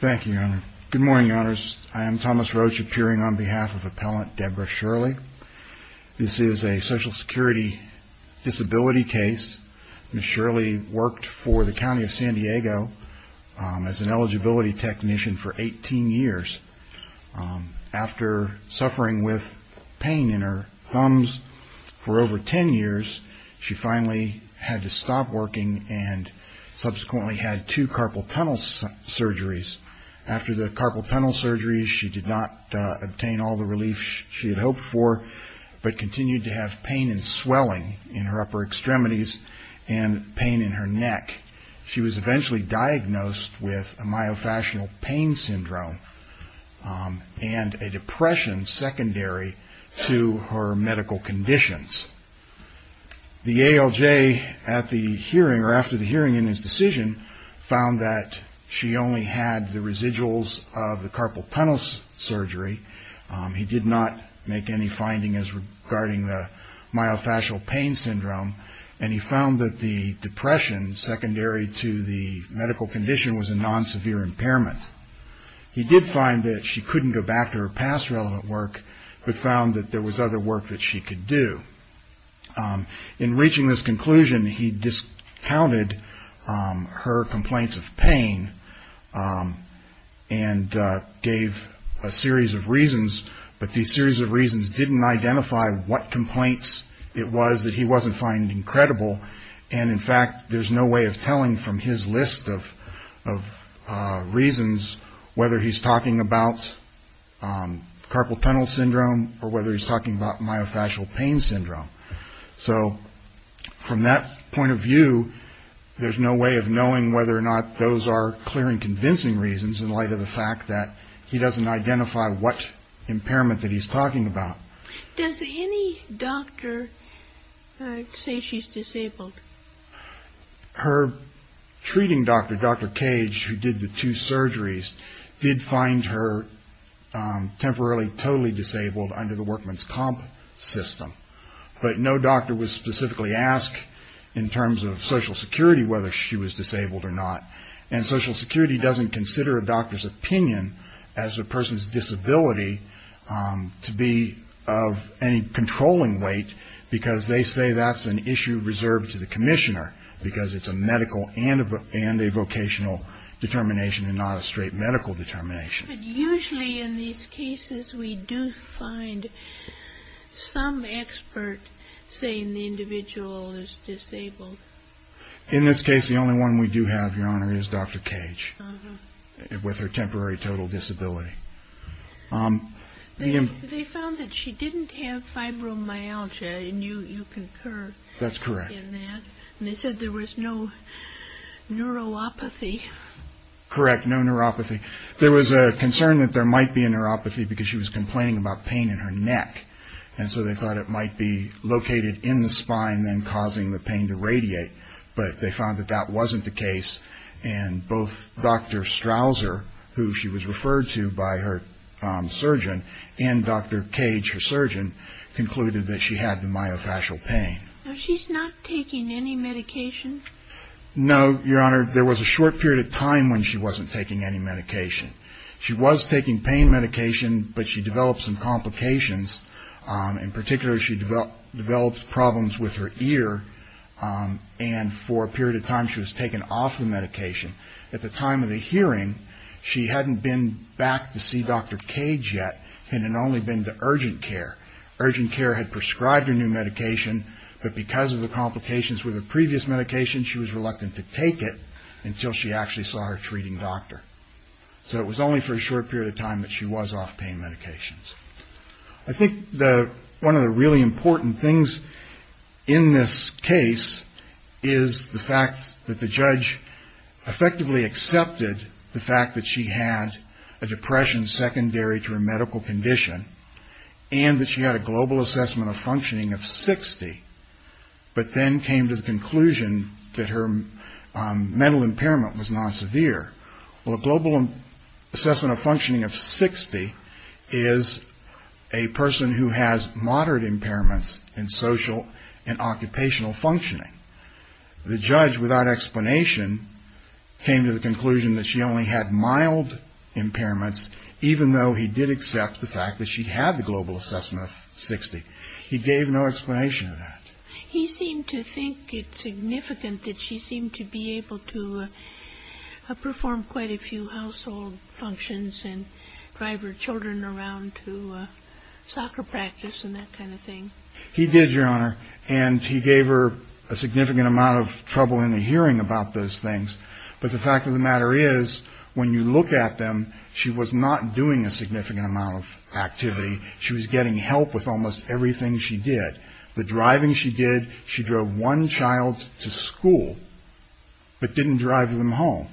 Thank you, Your Honor. Good morning, Your Honors. I am Thomas Roach, appearing on behalf of Appellant Debra Shirley. This is a Social Security disability case. Ms. Shirley worked for the County of San Diego as an eligibility technician for 18 years. After suffering with pain in her thumbs for over 10 years, she finally had to stop working and subsequently had two carpal tunnel surgeries. After the carpal tunnel surgeries, she did not obtain all the relief she had hoped for, but continued to have pain and swelling in her upper extremities and pain in her neck. She was eventually diagnosed with myofascial pain syndrome and a depression secondary to her medical conditions. The ALJ, after the hearing in his decision, found that she only had the residuals of the carpal tunnel surgery. He did not make any findings regarding the myofascial pain syndrome, and he found that the depression secondary to the medical condition was a non-severe impairment. He did find that she couldn't go back to her past relevant work, but found that there was other work that she could do. In reaching this conclusion, he discounted her complaints of pain and gave a series of reasons, but these series of reasons didn't identify what complaints it was that he wasn't finding credible. In fact, there's no way of telling from his list of reasons whether he's talking about carpal tunnel syndrome or whether he's talking about myofascial pain syndrome. So, from that point of view, there's no way of knowing whether or not those are clear and convincing reasons in light of the fact that he doesn't identify what impairment that he's talking about. Does any doctor say she's disabled? Her treating doctor, Dr. Cage, who did the two surgeries, did find her temporarily totally disabled under the workman's comp system, but no doctor was specifically asked in terms of Social Security whether she was disabled or not, and Social Security doesn't consider a doctor's opinion as a person's disability to be of any controlling weight because they say that's an issue reserved to the commissioner because it's a medical and a vocational determination and not a straight medical determination. But usually in these cases, we do find some expert saying the individual is disabled. In this case, the only one we do have, Your Honor, is Dr. Cage with her temporary total disability. They found that she didn't have fibromyalgia, and you concur in that. That's correct. And they said there was no neuropathy. Correct, no neuropathy. There was a concern that there might be a neuropathy because she was complaining about pain in her neck, and so they thought it might be located in the spine and causing the pain to radiate, but they found that that wasn't the case, and both Dr. Strouser, who she was referred to by her surgeon, and Dr. Cage, her surgeon, concluded that she had myofascial pain. No, Your Honor. There was a short period of time when she wasn't taking any medication. She was taking pain medication, but she developed some complications. In particular, she developed problems with her ear, and for a period of time, she was taken off the medication. At the time of the hearing, she hadn't been back to see Dr. Cage yet and had only been to urgent care. Urgent care had prescribed her new medication, but because of the complications with her medication, she was reluctant to take it until she actually saw her treating doctor. So it was only for a short period of time that she was off pain medications. I think one of the really important things in this case is the fact that the judge effectively accepted the fact that she had a depression secondary to her medical condition and that she had a global assessment of functioning of 60, but then came to the conclusion that her mental impairment was not severe. Well, a global assessment of functioning of 60 is a person who has moderate impairments in social and occupational functioning. The judge, without explanation, came to the conclusion that she only had mild impairments, even though he did accept the fact that she had the global assessment of 60. He gave no explanation of that. He seemed to think it significant that she seemed to be able to perform quite a few household functions and drive her children around to soccer practice and that kind of thing. He did, Your Honor, and he gave her a significant amount of trouble in the hearing about those not doing a significant amount of activity. She was getting help with almost everything she did. The driving she did, she drove one child to school, but didn't drive them home.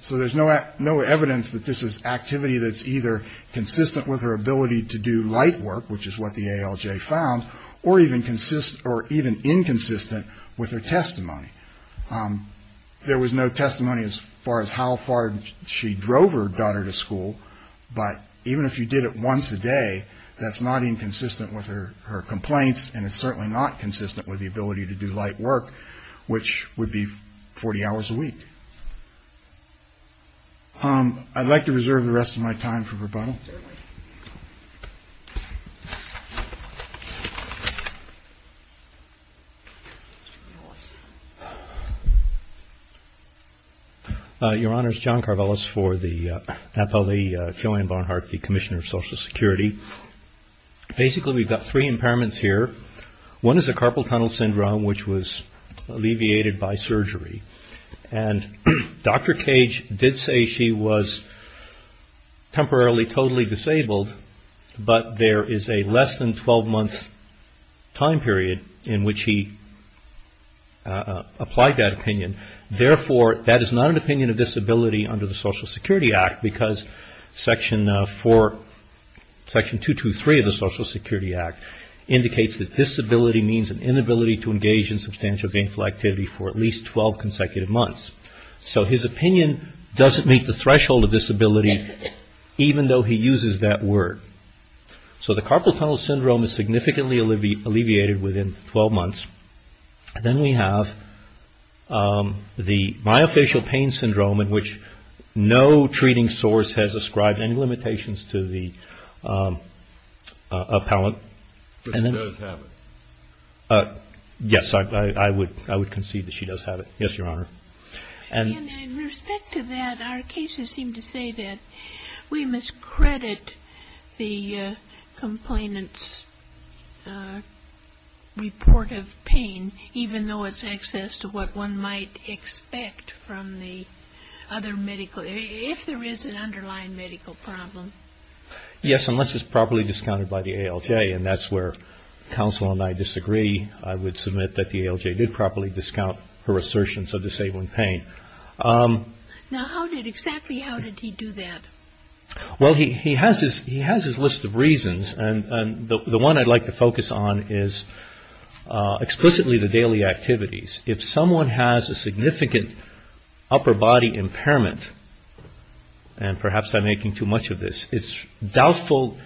So there's no evidence that this is activity that's either consistent with her ability to do light work, which is what the ALJ found, or even inconsistent with her testimony. There was no testimony as far as how far she drove her daughter to school, but even if you did it once a day, that's not inconsistent with her complaints, and it's certainly not consistent with the ability to do light work, which would be 40 hours a week. I'd like to reserve the rest of my time for rebuttal. Your Honor, it's John Karvelas for the NAPOLE, Joanne Barnhart, the Commissioner of Social Security. Basically we've got three impairments here. One is a carpal tunnel syndrome, which was alleviated by surgery, and Dr. Cage did say she was temporarily totally disabled, but there is a less than 12-month time period in which he applied that opinion. Therefore, that is not an opinion of disability under the Social Security Act, because Section 223 of the Social Security Act indicates that disability means an inability to engage in substantial gainful activity for at least 12 consecutive months. So his opinion doesn't meet the threshold of disability, even though he uses that word. So the carpal tunnel syndrome is significantly alleviated within 12 months. Then we have the myofascial pain syndrome, in which no treating source has ascribed any limitations to the appellant. She does have it. Yes, I would concede that she does have it. Yes, Your Honor. In respect to that, our cases seem to say that we must credit the complainant's report of pain, even though it's access to what one might expect from the other medical, if there is an underlying medical problem. Yes, unless it's properly discounted by the ALJ, and that's where counsel and I disagree. I would submit that the ALJ did properly discount her assertions of disabling pain. Now, exactly how did he do that? Well, he has his list of reasons, and the one I'd like to focus on is explicitly the daily activities. If someone has a significant upper body impairment, and perhaps I'm making too much of this, it's doubtful,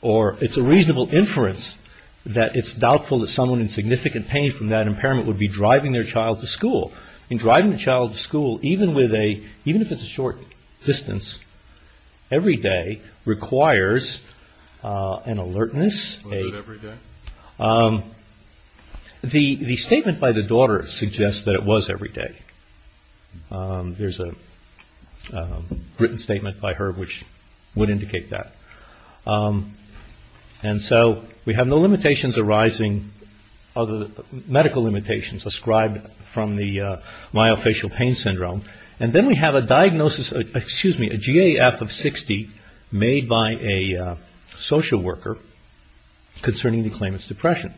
or it's a reasonable inference that it's doubtful that someone in significant pain from that impairment would be driving their child to school. Driving the child to school, even if it's a short distance, every day, requires an alertness. Was it every day? The statement by the daughter suggests that it was every day. There's a written statement by her which would indicate that. And so we have no limitations arising, medical limitations, ascribed from the myofascial pain syndrome. And then we have a diagnosis, excuse me, a GAF of 60 made by a social worker concerning the claimant's depression.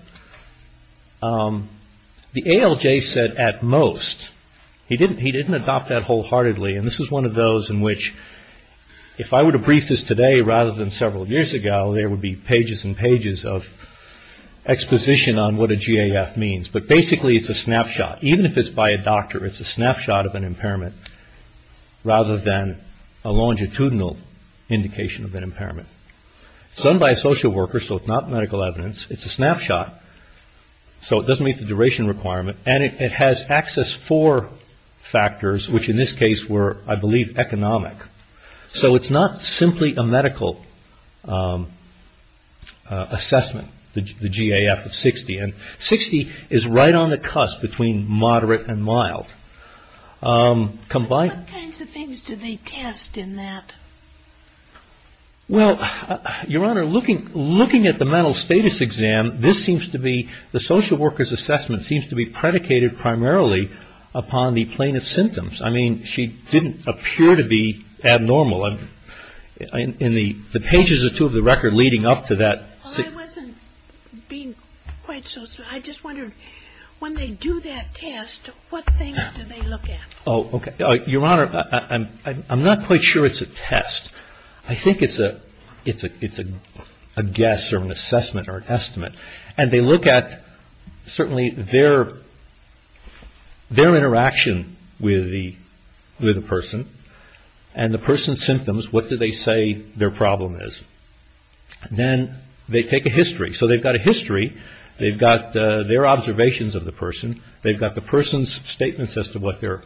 The ALJ said, at most, he didn't adopt that wholeheartedly. And this is one of those in which, if I were to brief this today rather than several years ago, there would be pages and pages of exposition on what a GAF means. But basically, it's a snapshot. Even if it's by a doctor, it's a snapshot of an impairment rather than a longitudinal indication of an impairment. It's done by a social worker, so it's not medical evidence. It's a snapshot, so it doesn't meet the duration requirement. And it has access for factors, which in this case were, I believe, economic. So it's not simply a medical assessment, the GAF of 60. And 60 is right on the cusp between moderate and mild. What kinds of things do they test in that? Well, Your Honor, looking at the mental status exam, this seems to be, the social worker's assessment seems to be predicated primarily upon the plaintiff's symptoms. I mean, she didn't appear to be abnormal. In the pages or two of the record leading up to that. Well, I wasn't being quite so specific. I just wondered, when they do that test, what things do they look at? Oh, okay. Your Honor, I'm not quite sure it's a test. I think it's a guess or an assessment or an estimate. And they look at certainly their interaction with the person and the person's symptoms. What do they say their problem is? Then they take a history. So they've got a history. They've got their observations of the person. They've got the person's statements as to what their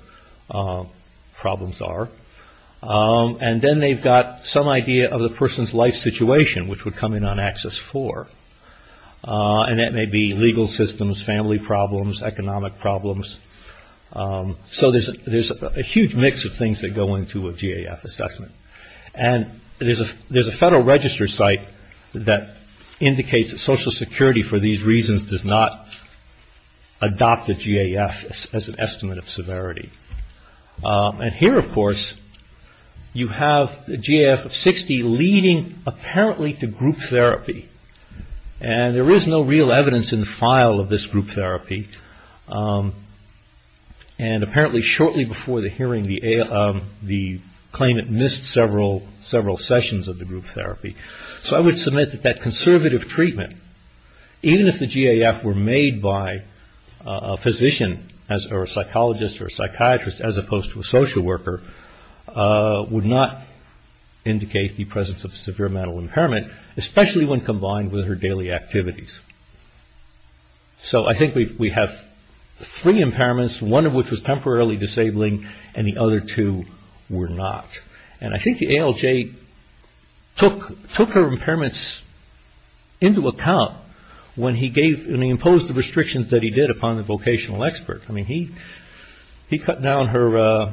problems are. And then they've got some idea of the person's life situation, which would come in on Axis 4. And that may be legal systems, family problems, economic problems. So there's a huge mix of things that go into a GAF assessment. And there's a Federal Register site that indicates that Social Security, for these reasons, does not adopt a GAF as an estimate of severity. And here, of course, you have a GAF of 60 leading apparently to group therapy. And there is no real evidence in the file of this group therapy. And apparently shortly before the hearing, the claimant missed several sessions of the group therapy. So I would submit that that conservative treatment, even if the GAF were made by a physician or a psychologist or a psychiatrist as opposed to a social worker, would not indicate the presence of severe mental impairment, especially when combined with her daily activities. So I think we have three impairments, one of which was temporarily disabling, and the other two were not. And I think the ALJ took her impairments into account when he imposed the restrictions that he did upon the vocational expert. He cut down her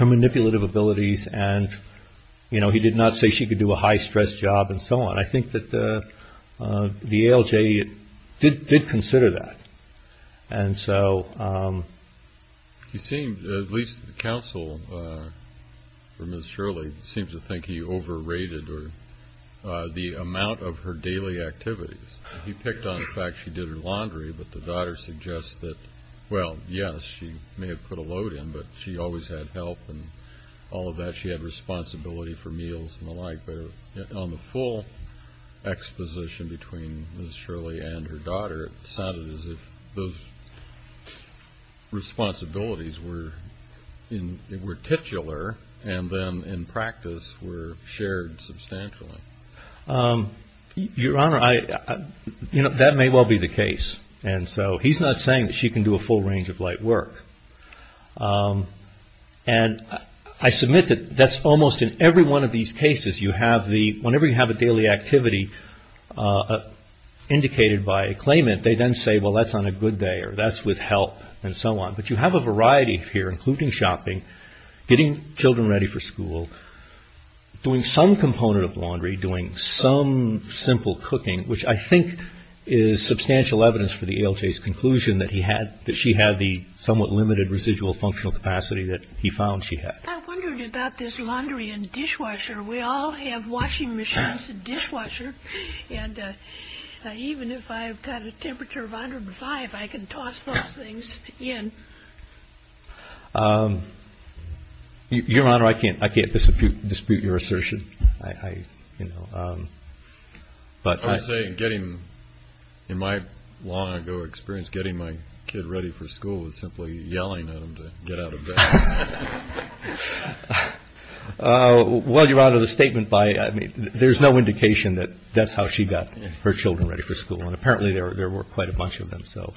manipulative abilities and he did not say she could do a high-stress job and so on. And I think that the ALJ did consider that. And so... You seem, at least the counsel for Ms. Shirley, seems to think he overrated the amount of her daily activities. He picked on the fact she did her laundry, but the daughter suggests that, well, yes, she may have put a load in, but she always had help and all of that. She had responsibility for meals and the like. On the full exposition between Ms. Shirley and her daughter, it sounded as if those responsibilities were titular and then in practice were shared substantially. Your Honor, that may well be the case. And so he's not saying that she can do a full range of light work. And I submit that that's almost in every one of these cases. Whenever you have a daily activity indicated by a claimant, they then say, well, that's on a good day or that's with help and so on. But you have a variety here, including shopping, getting children ready for school, doing some component of laundry, doing some simple cooking, which I think is substantial evidence for the ALJ's conclusion that she had the somewhat limited residual functional capacity that he found she had. I wondered about this laundry and dishwasher. We all have washing machines and dishwashers. And even if I've got a temperature of 105, I can toss those things in. Your Honor, I can't dispute your assertion. I would say in my long ago experience, getting my kid ready for school was simply yelling at him to get out of bed. Well, Your Honor, the statement by, there's no indication that that's how she got her children ready for school. And apparently there were quite a bunch of them. So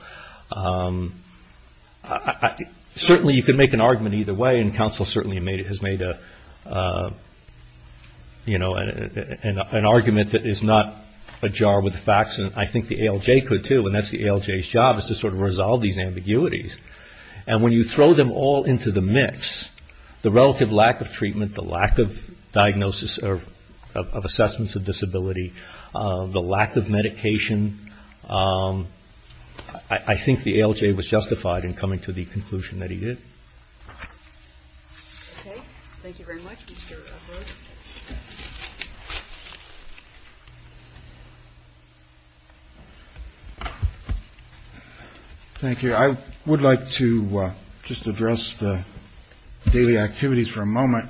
certainly you can make an argument either way and counsel certainly has made an argument that is not ajar with the facts and I think the ALJ could too. And that's the ALJ's job is to sort of resolve these ambiguities. And when you throw them all into the mix, the relative lack of treatment, the lack of diagnosis or of assessments of disability, the lack of medication, I think the ALJ was justified in coming to the conclusion that he did. Okay. Thank you very much, Mr. Edwards. Thank you. I would like to just address the daily activities for a moment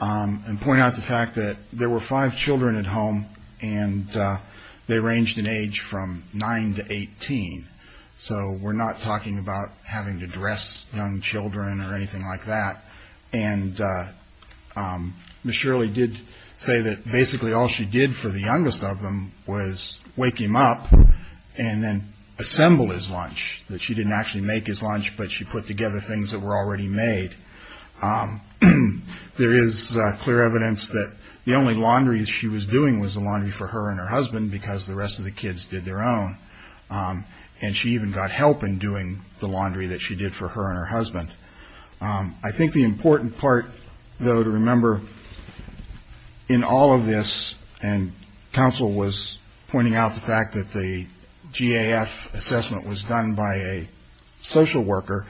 and point out the fact that there were five children at home and they ranged in age from nine to 18. So we're not talking about having to dress young children or anything like that. And Ms. Shirley did say that basically all she did for the youngest of them was wake him up and then assemble his lunch, that she didn't actually make his lunch, but she put together things that were already made. There is clear evidence that the only laundry she was doing was the laundry for her and her husband because the rest of the kids did their own. And she even got help in doing the laundry that she did for her and her husband. I think the important part, though, to remember in all of this, and counsel was pointing out the fact that the GAF assessment was done by a social worker,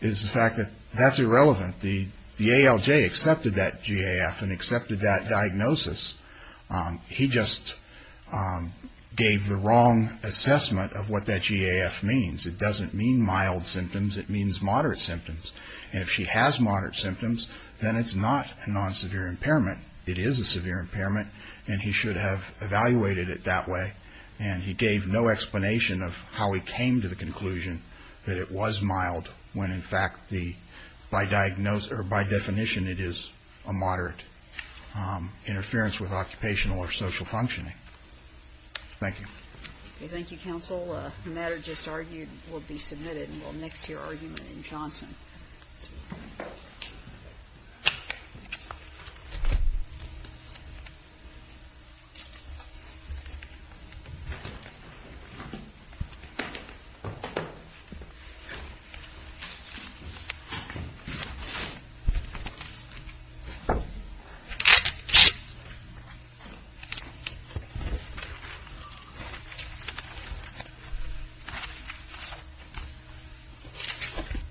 is the fact that that's irrelevant. The ALJ accepted that GAF and accepted that diagnosis. He just gave the wrong assessment of what that GAF means. It doesn't mean mild symptoms. It means moderate symptoms. And if she has moderate symptoms, then it's not a non-severe impairment. It is a severe impairment and he should have evaluated it that way. And he gave no explanation of how he came to the conclusion that it was mild when, in fact, by definition it is a moderate interference with occupational or social functioning. Thank you. Thank you, counsel. The matter just argued will be submitted and will next hear argument in Johnson. Thank you.